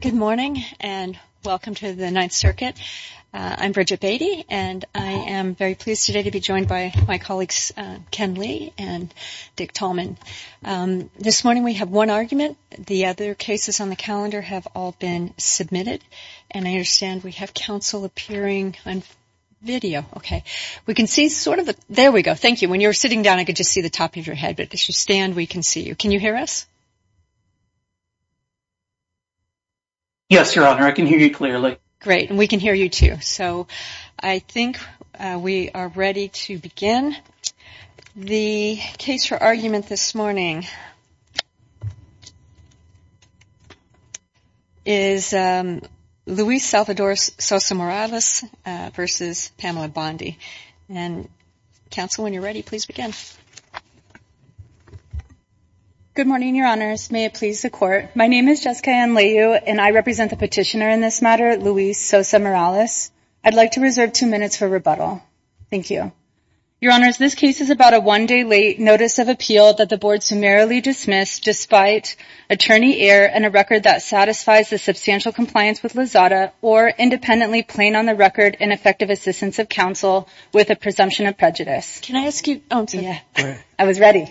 Good morning and welcome to the Ninth Circuit. I'm Bridget Beatty and I am very pleased today to be joined by my colleagues Ken Lee and Dick Tallman. This morning we have one argument, the other cases on the calendar have all been submitted and I understand we have counsel appearing on video. Okay, we can see sort of, there we go, thank you. When you're sitting down I could just see the top of your head but as you stand we can see you. Can you hear us? Yes, Your Honor, I can hear you clearly. Great and we can hear you too. So I think we are ready to begin. The case for argument this morning is Luis Salvador Sosa Morales v. Pamela Bondi and counsel, when you're ready, please begin. Good morning, Your Honors. May it please the Court. My name is Jessica Anleiu and I represent the petitioner in this matter, Luis Sosa Morales. I'd like to reserve two minutes for rebuttal. Thank you. Your Honors, this case is about a one-day-late notice of appeal that the Board summarily dismissed despite attorney error and a record that satisfies the substantial compliance with LAZADA or independently plain on the record and effective assistance of counsel with a presumption of prejudice. Can I ask you, oh I'm sorry, I was ready.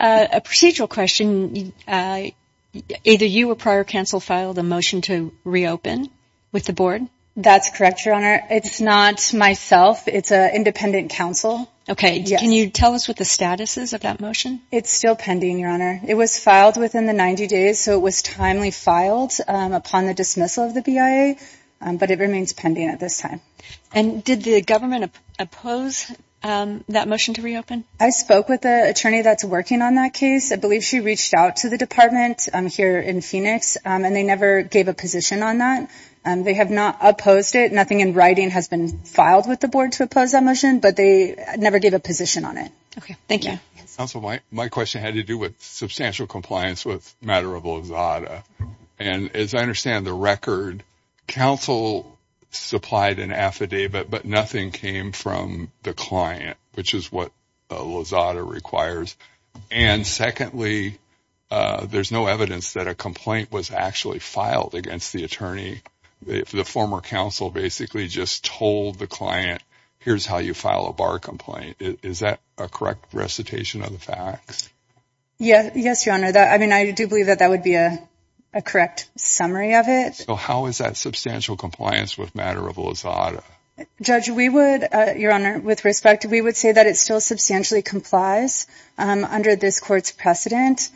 A procedural question, either you or prior counsel filed a motion to reopen with the Board? That's correct, Your Honor. It's not myself, it's an independent counsel. Okay, can you tell us what the status is of that motion? It's still pending, Your Honor. It was filed within the 90 days so it was timely filed upon the dismissal of the way, but it remains pending at this time. And did the government oppose that motion to reopen? I spoke with the attorney that's working on that case. I believe she reached out to the Department here in Phoenix and they never gave a position on that. They have not opposed it. Nothing in writing has been filed with the Board to oppose that motion, but they never gave a position on it. Okay, thank you. Counsel, my question had to do with substantial compliance with matter of Lozada. And as I understand the record, counsel supplied an affidavit but nothing came from the client, which is what Lozada requires. And secondly, there's no evidence that a complaint was actually filed against the attorney. The former counsel basically just told the client, here's how you file a bar complaint. Is that a correct recitation of the facts? Yes, Your Honor. I mean, I do believe that that would be a correct summary of it. So how is that substantial compliance with matter of Lozada? Judge, we would, Your Honor, with respect, we would say that it still substantially complies under this court's precedent.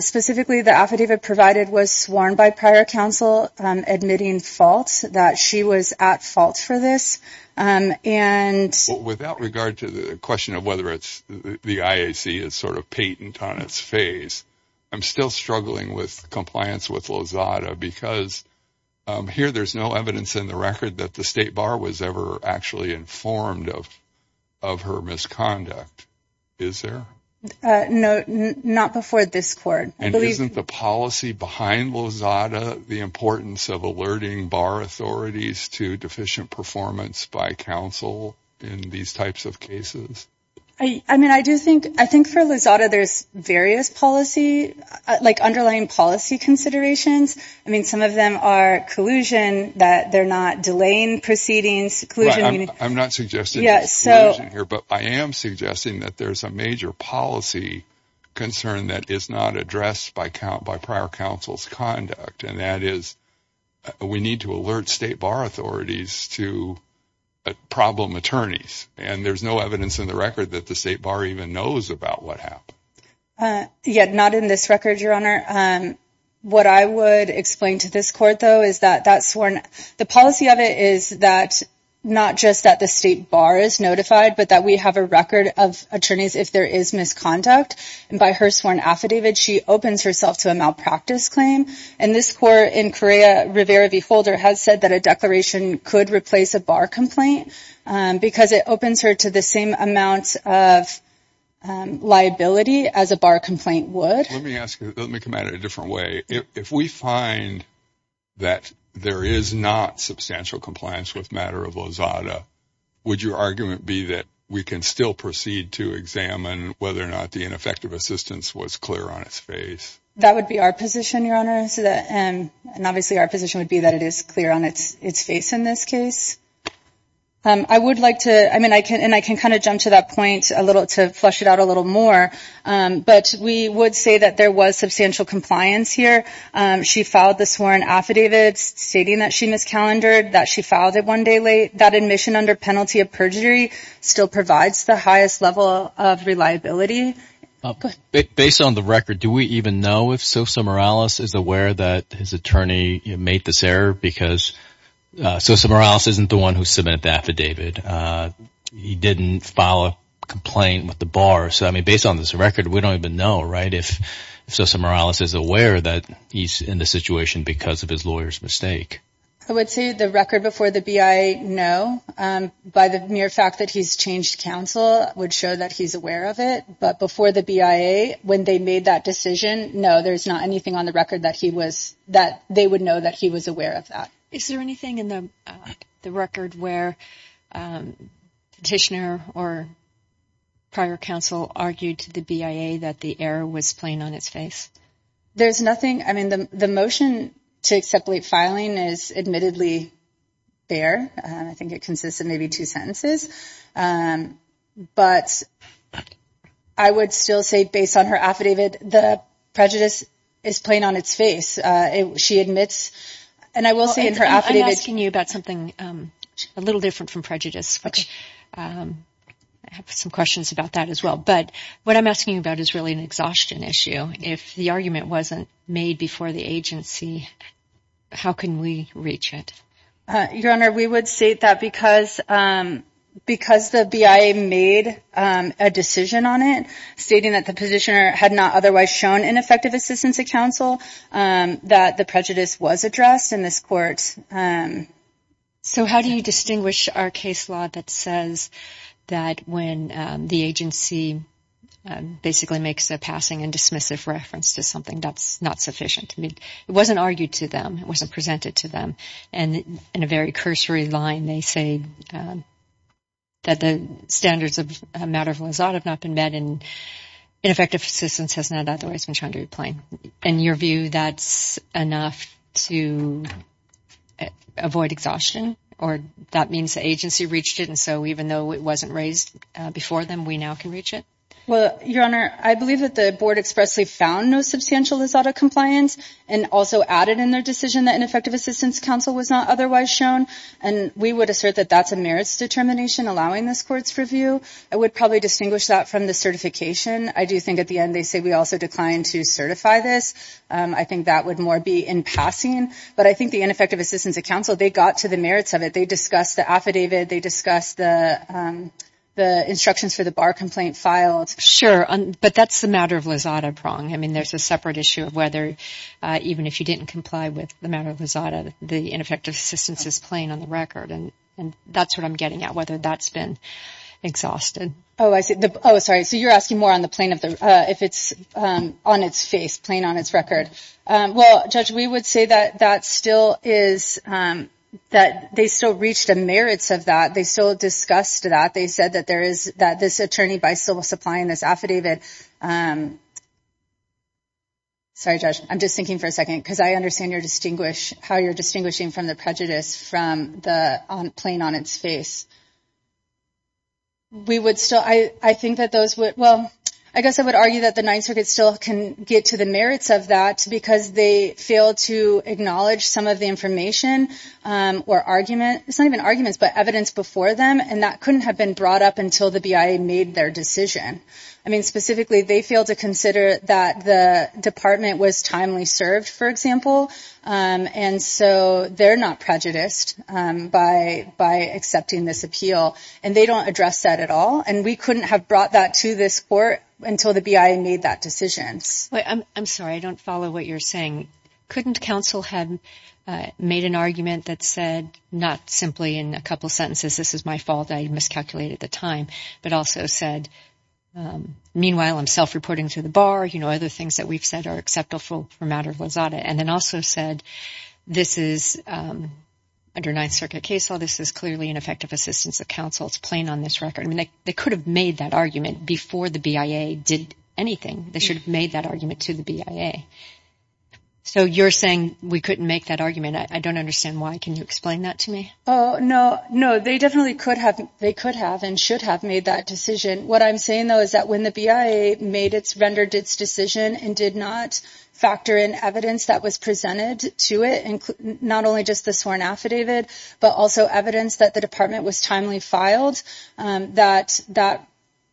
Specifically, the affidavit provided was sworn by prior counsel admitting fault, that she was at fault for this. And without regard to the question of whether it's the IAC is sort of patent on its face, I'm still struggling with compliance with Lozada because here there's no evidence in the record that the state bar was ever actually informed of of her misconduct. Is there? No, not before this court. And isn't the policy behind Lozada the importance of alerting bar authorities to deficient performance by counsel in these types of cases? I mean, I do think, I think for Lozada there's various policy, like underlying policy considerations. I mean, some of them are collusion, that they're not delaying proceedings. I'm not suggesting collusion here, but I am suggesting that there's a major policy concern that is not addressed by prior counsel's conduct, and that is we need to alert state bar authorities to problem attorneys. And there's no evidence in the record that the state bar even knows about what happened. Yeah, not in this record, Your Honor. What I would explain to this court, though, is that that's sworn, the policy of it is that not just that the state bar is notified, but that we have a record of attorneys if there is misconduct. And by her sworn affidavit, she opens herself to a malpractice claim. And this court in Correa Rivera v. Holder has said that a declaration could replace a bar complaint, because it opens her to the same amount of liability as a bar complaint would. Let me come at it a different way. If we find that there is not substantial compliance with matter of Lozada, would your argument be that we can still proceed to examine whether or not the ineffective assistance was clear on its face? That would be our position, Your Honor, and obviously our position would be that it is clear on its its face in this case. I would like to, I mean, I can and I can kind of jump to that point a little to flesh it out a little more, but we would say that there was substantial compliance here. She filed the sworn affidavit stating that she miscalendered, that she filed it one day late, that admission under penalty of perjury still provides the highest level of reliability. Based on the record, do we even know if Sosa Morales is aware that his attorney made this error? Because Sosa Morales isn't the one who submitted the affidavit. He didn't file a complaint with the bar. So, I mean, based on this record, we don't even know, right, if Sosa Morales is aware that he's in the situation because of his lawyer's mistake. I would say the record before the BIA, no. By the mere fact that he's changed counsel would show that he's aware of it, but before the BIA, when they made that decision, no, there's not anything on the record that he was, that they would know that he was aware of that. Is there anything in the record where petitioner or prior counsel argued to the BIA that the error was plain on its face? There's nothing, I mean, the motion to accept late filing is admittedly there. I think it consists of maybe two sentences, but I would still say, based on her affidavit, the prejudice is plain on its face. She admits, and I will say in her affidavit... I'm asking you about something a little different from prejudice, which I have some questions about that as well, but what I'm asking you about is really an exhaustion issue. If the argument wasn't made before the agency, how can we reach it? Your Honor, we would state that because the BIA made a decision on it, stating that the petitioner had not otherwise shown ineffective assistance of counsel, that the prejudice was addressed in this court. So how do you distinguish our case that says that when the agency basically makes a passing and dismissive reference to something, that's not sufficient? I mean, it wasn't argued to them, it wasn't presented to them, and in a very cursory line, they say that the standards of matter of Lausanne have not been met and ineffective assistance has not otherwise been shown to be plain. In your view, that's enough to avoid exhaustion, or that means the agency reached it, and so even though it wasn't raised before them, we now can reach it? Well, Your Honor, I believe that the board expressly found no substantial Lizada compliance and also added in their decision that ineffective assistance counsel was not otherwise shown, and we would assert that that's a merits determination allowing this court's review. I would probably distinguish that from the certification. I do think at the end they say we also declined to certify this. I think that would more be in passing, but I think the ineffective assistance of counsel, they got to the merits of it. They discussed the affidavit, they discussed the instructions for the bar complaint filed. Sure, but that's the matter of Lizada prong. I mean, there's a separate issue of whether, even if you didn't comply with the matter of Lizada, the ineffective assistance is plain on the record, and that's what I'm getting at, whether that's been exhausted. Oh, I see. Oh, sorry, so you're asking more on the plain of the, if it's on its face, plain on its record. Well, Judge, we would say that that still is, that they still reached the merits of that. They still discussed that. They said that there is, that this attorney by civil supplying this affidavit. Sorry, Judge, I'm just thinking for a second, because I understand your distinguish, how you're distinguishing from the prejudice from the plain on its face. We would still, I think that those would, well, I guess I would argue that the Ninth Circuit still can get to the merits of that because they failed to acknowledge some of the information or argument, it's not even arguments, but evidence before them, and that couldn't have been brought up until the BIA made their decision. I mean, specifically, they failed to consider that the department was timely served, for example, and so they're not prejudiced by accepting this appeal, and they don't address that at all, and we couldn't have brought that to this court until the BIA made that decisions. I'm sorry, I don't follow what you're saying. Couldn't counsel have made an argument that said, not simply in a couple sentences, this is my fault, I miscalculated the time, but also said, meanwhile, I'm self-reporting to the bar, you know, other things that we've said are acceptable for matter of lazada, and then also said, this is, under Ninth Circuit case law, this is clearly an effective assistance of counsel, it's plain on this record. I mean, they could have made that argument before the BIA did anything. They should have made that argument to the BIA. So you're saying we couldn't make that argument? I don't understand why. Can you explain that to me? Oh, no, no, they definitely could have, they could have and should have made that decision. What I'm saying, though, is that when the BIA made its, rendered its decision and did not factor in evidence that was presented to it, not only just the sworn affidavit, but also evidence that the department was timely filed, that that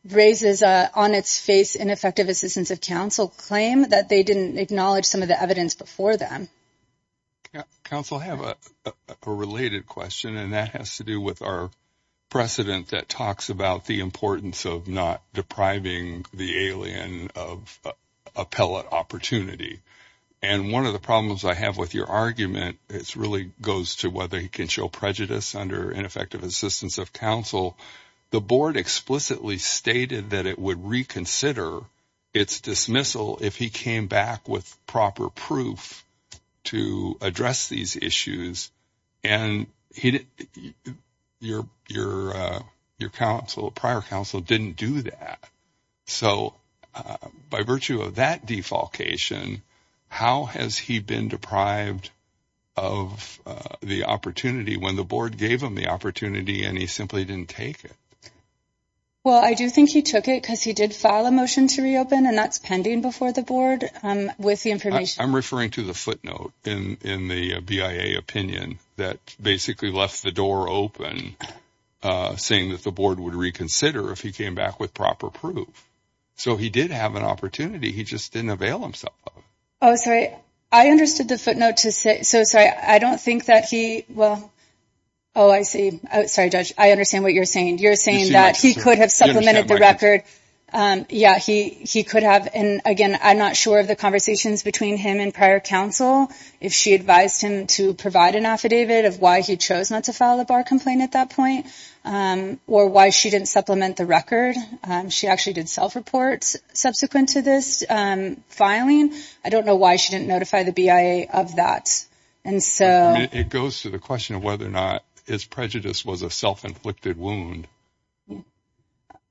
raises, on its face, an effective assistance of counsel claim that they didn't acknowledge some of the evidence before them. Counsel, I have a related question, and that has to do with our precedent that talks about the importance of not depriving the alien of appellate opportunity. And one of the problems I have with your argument, it really goes to whether he can show prejudice under ineffective assistance of counsel. The board explicitly stated that it would reconsider its dismissal if he came back with proper proof to address these issues, and your counsel, prior counsel, didn't do that. So by virtue of that defalcation, how has he been deprived of the opportunity when the board gave him the opportunity and he simply didn't take it? Well, I do think he took it because he did file a motion to reopen, and that's pending before the board with the information. I'm referring to the footnote in the BIA opinion that basically left the door open, saying that the board would reconsider if he came back with proper proof. So he did have an opportunity, he just didn't avail himself of it. Oh, sorry, I understood the footnote to say, so sorry, I don't think that he, well, oh, I see. Sorry, Judge, I understand what you're saying. You're saying that he could have supplemented the record. Yeah, he could have, and again, I'm not sure of the conversations between him and prior counsel, if she advised him to provide an affidavit of why he chose not to file a bar complaint at that point, or why she didn't supplement the record. She actually did self-reports subsequent to this filing. I don't know why she didn't notify the BIA of that. It goes to the question of whether or not his prejudice was a self-inflicted wound.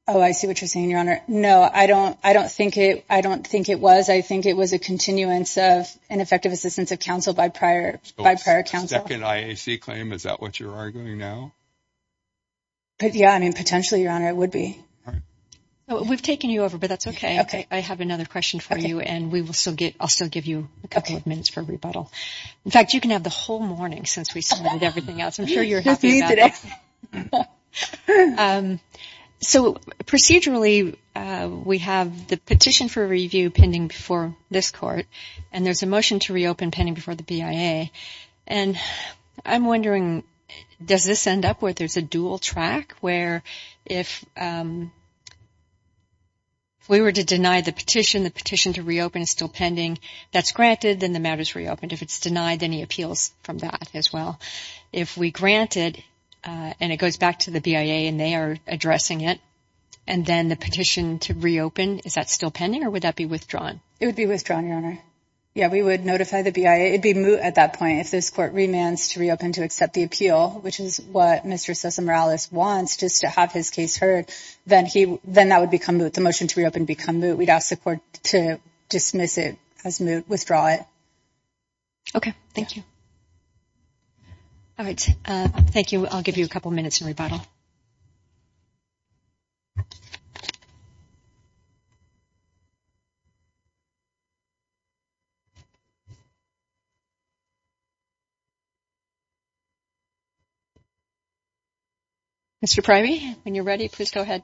Oh, I see what you're saying, Your Honor. No, I don't think it was. I think it was a continuance of ineffective assistance of counsel by prior counsel. A second IAC claim, is that what you're arguing now? Yeah, I mean, potentially, Your Honor, it would be. We've taken you over, but that's okay. I have another question for you, and I'll still give you a couple of minutes for rebuttal. In fact, you can have the whole morning since we submitted everything else. I'm sure you're happy about that. So, procedurally, we have the petition for review pending before this Court, and there's a motion to reopen pending before the BIA, and I'm wondering, does this end up where there's a dual track, where if we were to deny the petition, the petition to reopen is still pending, that's granted, then the matter is reopened. If it's denied, then he appeals from that as well. If we grant it, and it goes back to the BIA, and they are addressing it, and then the petition to reopen, is that still pending, or would that be withdrawn? It would be withdrawn, Your Honor. Yeah, we would notify the BIA. It'd be moot at that point. If this Court remands to reopen to accept the appeal, which is what Mr. Sosa-Morales wants, just to have his case heard, then that would become moot. The motion to reopen would become moot. We'd ask the Court to dismiss it as moot, withdraw it. Okay, thank you. All right, thank you. I'll give you a couple minutes to rebuttal. Mr. Primy, when you're ready, please go ahead.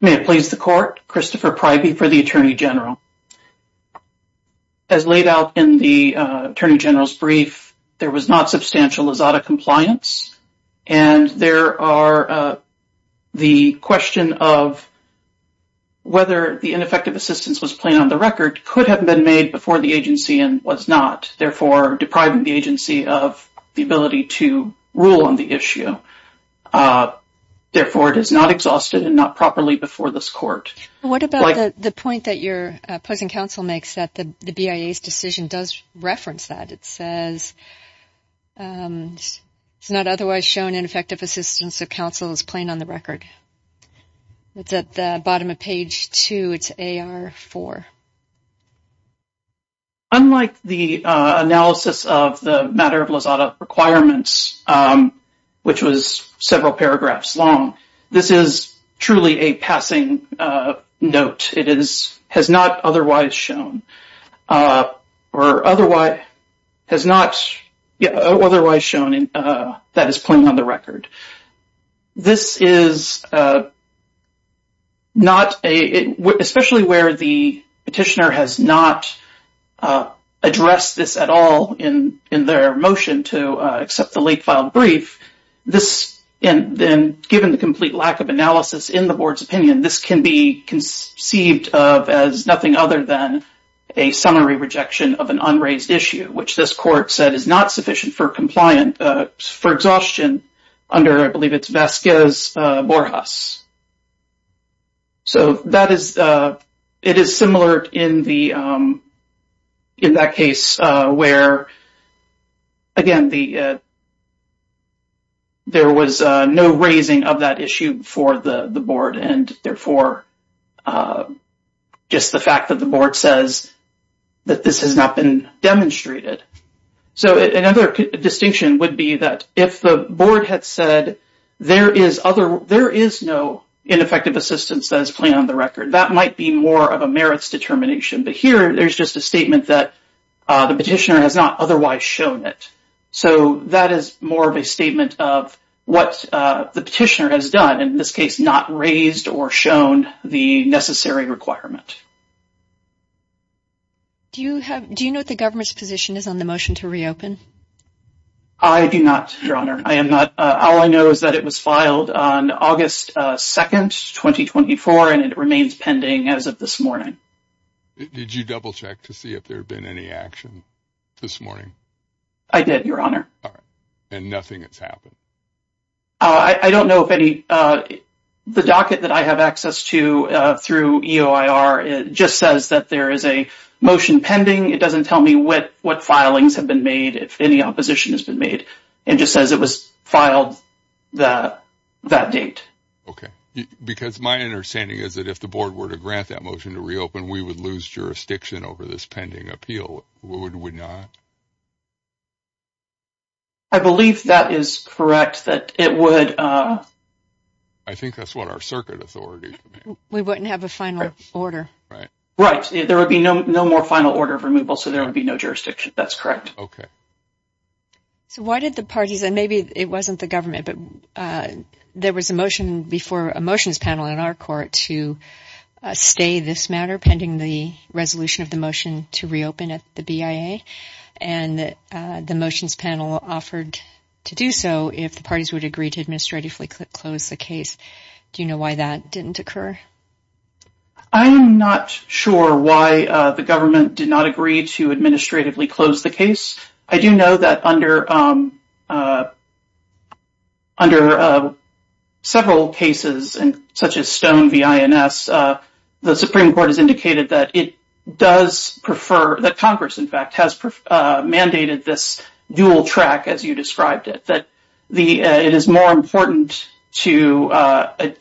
May it please the Court, Christopher Primy for the Attorney General. As laid out in the Attorney General's brief, there was not substantial Lazada compliance, and there are the question of whether the ineffective assistance was plain on the record, could have been made before the agency, and was not, therefore depriving the agency of the ability to rule on the issue. Therefore, it is not exhausted and not properly before this Court. What about the point that your opposing counsel makes that the BIA's decision does reference that? It says it's not otherwise shown ineffective assistance of counsel is plain on the record. It's at the bottom of page 2, it's AR4. Unlike the analysis of the matter of requirements, which was several paragraphs long, this is truly a passing note. It has not otherwise shown that it's plain on the record. This is not, especially where the petitioner has not addressed this at all in their motion to accept the late-filed brief. Given the complete lack of analysis in the Board's opinion, this can be conceived of as nothing other than a summary rejection of an unraised issue, which this Court said is not sufficient for exhaustion under, I In that case, where, again, there was no raising of that issue before the Board, and therefore, just the fact that the Board says that this has not been demonstrated. So another distinction would be that if the Board had said there is no ineffective assistance that is plain on the record, that might be more of a merits determination. But here, there's just a statement that the petitioner has not otherwise shown it. So that is more of a statement of what the petitioner has done, in this case, not raised or shown the necessary requirement. Do you know what the government's position is on the motion to reopen? I do not, Your Honor. All I know is that it was filed on August 2nd, 2024, and it remains pending as of this morning. Did you double-check to see if there had been any action this morning? I did, Your Honor. All right. And nothing has happened? I don't know if any. The docket that I have access to through EOIR just says that there is a motion pending. It doesn't tell me what filings have been made, if any opposition has been made. It just says it was filed that date. Okay. Because my understanding is that if the were to grant that motion to reopen, we would lose jurisdiction over this pending appeal, would we not? I believe that is correct, that it would... I think that's what our circuit authorities... We wouldn't have a final order. Right. Right. There would be no more final order of removal, so there would be no jurisdiction. That's correct. Okay. So why did the parties, and maybe it wasn't the government, but there was a motion before a motions panel in our court to stay this matter pending the resolution of the motion to reopen at the BIA, and the motions panel offered to do so if the parties would agree to administratively close the case. Do you know why that didn't occur? I'm not sure why the government did not agree to administratively close the case. I do know that under several cases, such as Stone v. INS, the Supreme Court has indicated that it does prefer, that Congress, in fact, has mandated this dual track as you described it, that it is more important to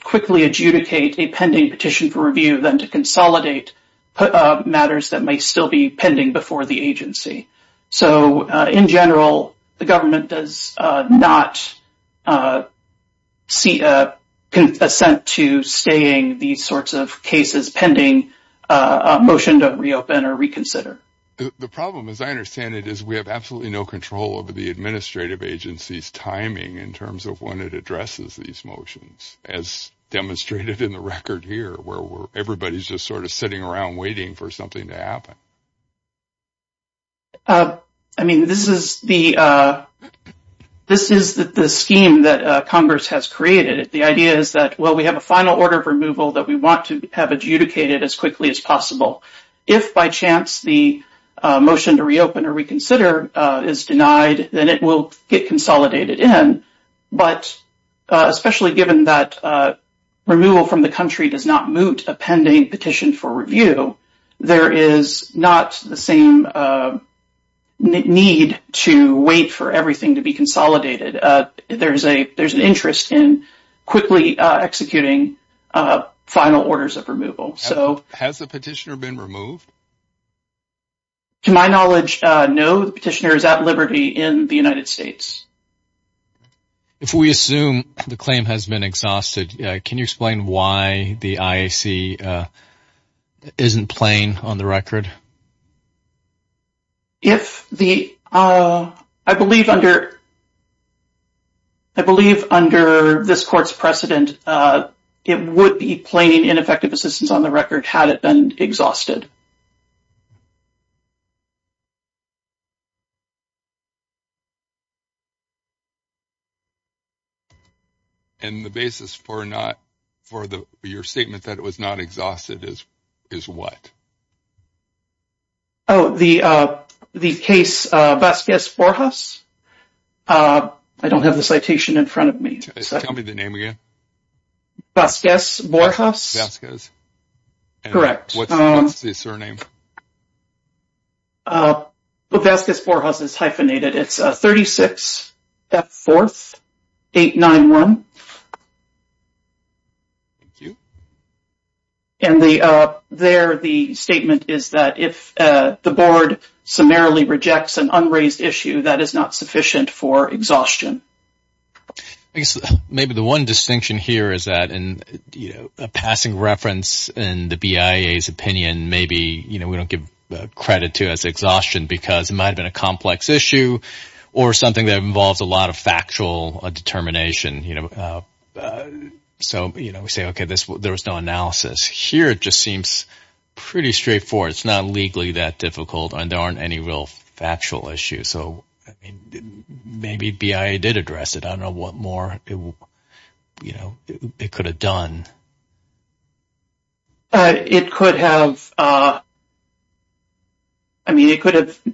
quickly adjudicate a pending petition for review than to consolidate matters that may still be pending before the agency. So, in general, the government does not see an assent to staying these sorts of cases pending a motion to reopen or reconsider. The problem, as I understand it, is we have absolutely no control over the administrative agency's timing in terms of when it addresses these motions, as demonstrated in the record here, where everybody's just sort of sitting around waiting for something to happen. I mean, this is the scheme that Congress has created. The idea is that, well, we have a final order of removal that we want to have adjudicated as quickly as possible. If, by chance, the motion to reopen or reconsider is denied, then it will get consolidated in, but especially given that removal from the country does not moot a pending petition for review, there is not the same need to wait for everything to be consolidated. There's an interest in quickly executing final orders of removal. Has the petitioner been removed? To my knowledge, no. The petitioner is at liberty in the United States. If we assume the claim has been exhausted, can you explain why the IAC isn't playing on the record? I believe under this court's precedent, it would be playing in effective assistance on the record had it been exhausted. And the basis for your statement that it was not exhausted is what? Oh, the case Vasquez-Borjas. I don't have the citation in front of me. Tell me the name again. Vasquez-Borjas. Correct. What's the surname? Vasquez-Borjas is hyphenated. It's 36F4891. Thank you. And there the statement is that if the board summarily rejects an unraised issue, that is not sufficient for exhaustion. Maybe the one distinction here is that in a passing reference in the BIA's opinion, maybe we don't give credit to it as exhaustion because it might have been a complex issue or something that involves a lot of factual determination. So we say, okay, there was no analysis. Here, it just seems pretty straightforward. It's not legally that difficult and there aren't any real factual issues. So maybe BIA did address it. I don't know what more it could have done. It could have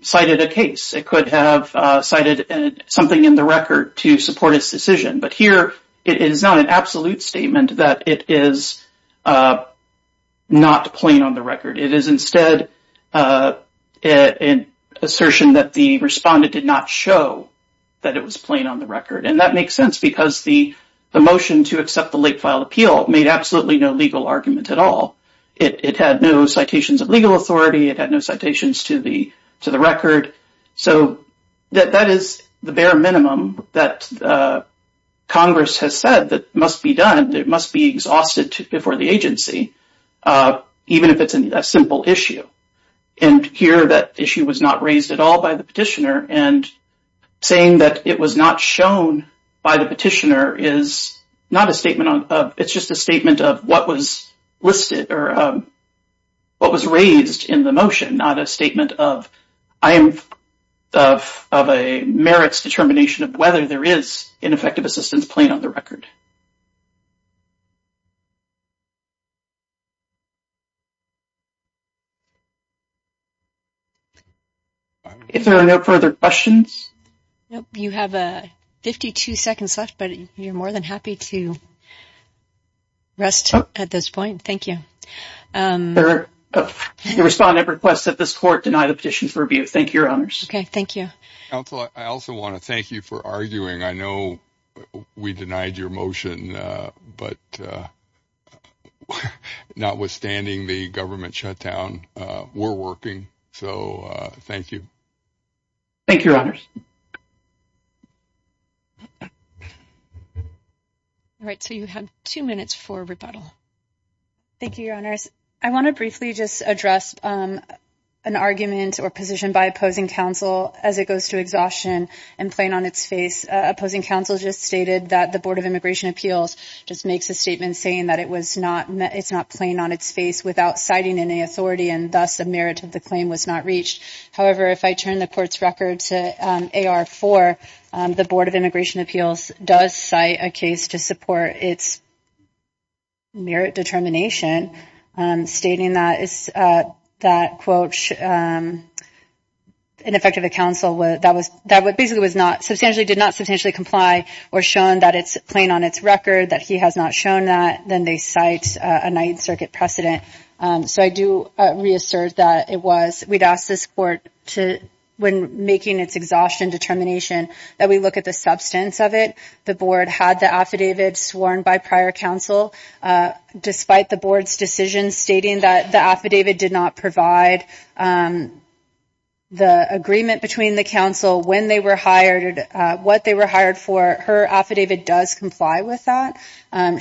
cited a case. It could have cited something in the record to support its decision. But here, it is not an absolute statement that it is not plain on the record. It is instead an assertion that the respondent did not show that it was plain on the record. And that makes sense because the motion to accept the late-filed appeal made absolutely no legal argument at all. It had no citations of legal authority. It had no citations to the record. So that is the bare minimum that Congress has said that must be done, that must be exhausted before the agency, even if it's a simple issue. And here, that issue was not raised at all by the petitioner. And saying that it was not shown by the petitioner is not a statement of—it's just a statement of what was listed or what was raised in the motion, not a statement of a merits determination of whether there is an effective assistance plain on the record. If there are no further questions— No, you have 52 seconds left, but you're more than happy to rest at this point. Thank you. The respondent requests that this Court deny the petition for review. Thank you, Your Honors. Okay, thank you. Counsel, I also want to thank you for arguing. I know we denied your motion, but notwithstanding the government shutdown, we're working, so thank you. Thank you, Your Honors. All right, so you have two minutes for rebuttal. Thank you, Your Honors. I want to briefly just address an argument or position by opposing counsel as it goes to exhaustion and plain on its face. Opposing counsel just stated that the Board of Immigration Appeals just makes a statement saying that it's not plain on its face without citing any authority, and thus the merit of the claim was not reached. However, if I turn the Court's record to AR-4, the Board of Immigration Appeals does cite a case to support its merit determination, stating that, quote, in effect of a counsel that basically did not substantially comply or shown that it's plain on its record, that he has not shown that, then they cite a Ninth Circuit precedent. So I do reassert that we'd ask this Court, when making its exhaustion determination, that we look at the substance of it. The Board had the affidavit sworn by prior counsel. Despite the Board's decision stating that the affidavit did not provide the agreement between the counsel when they were hired, what they were hired for, her affidavit does comply with that.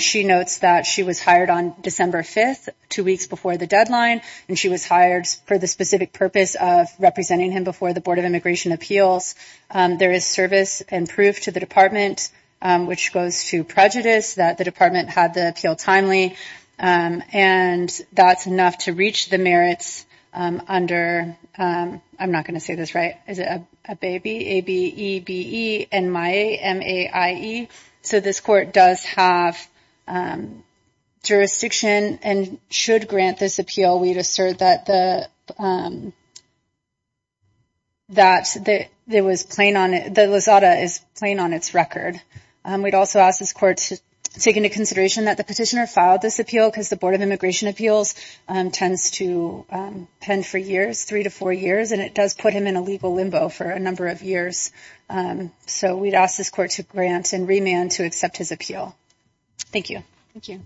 She notes that she was hired on December 5th, two weeks before the deadline, and she was hired for the specific purpose of representing him before the Board of Immigration Appeals. There is service and proof to the Department, which goes to prejudice that the Department had the appeal timely, and that's enough to reach the merits under, I'm not going to say this right, is it ABE, A-B-E-B-E, M-I-A-M-A-I-E. So this Court does have jurisdiction and should grant this appeal, we'd assert that the Losada is plain on its record. We'd also ask this Court to take into consideration that the petitioner filed this appeal because the Board of Immigration Appeals tends to pen for years, three to four years, and it does put him in a legal limbo for a number of years. So we'd ask this Court to grant and remand to accept his appeal. Thank you. Thank you.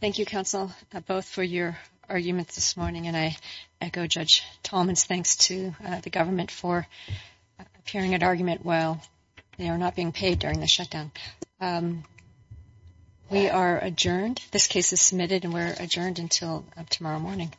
Thank you, counsel, both for your arguments this morning, and I echo Judge Tallman's thanks to the government for appearing at argument while they are not being paid during the shutdown. We are adjourned. This case is submitted and we're adjourned until tomorrow morning.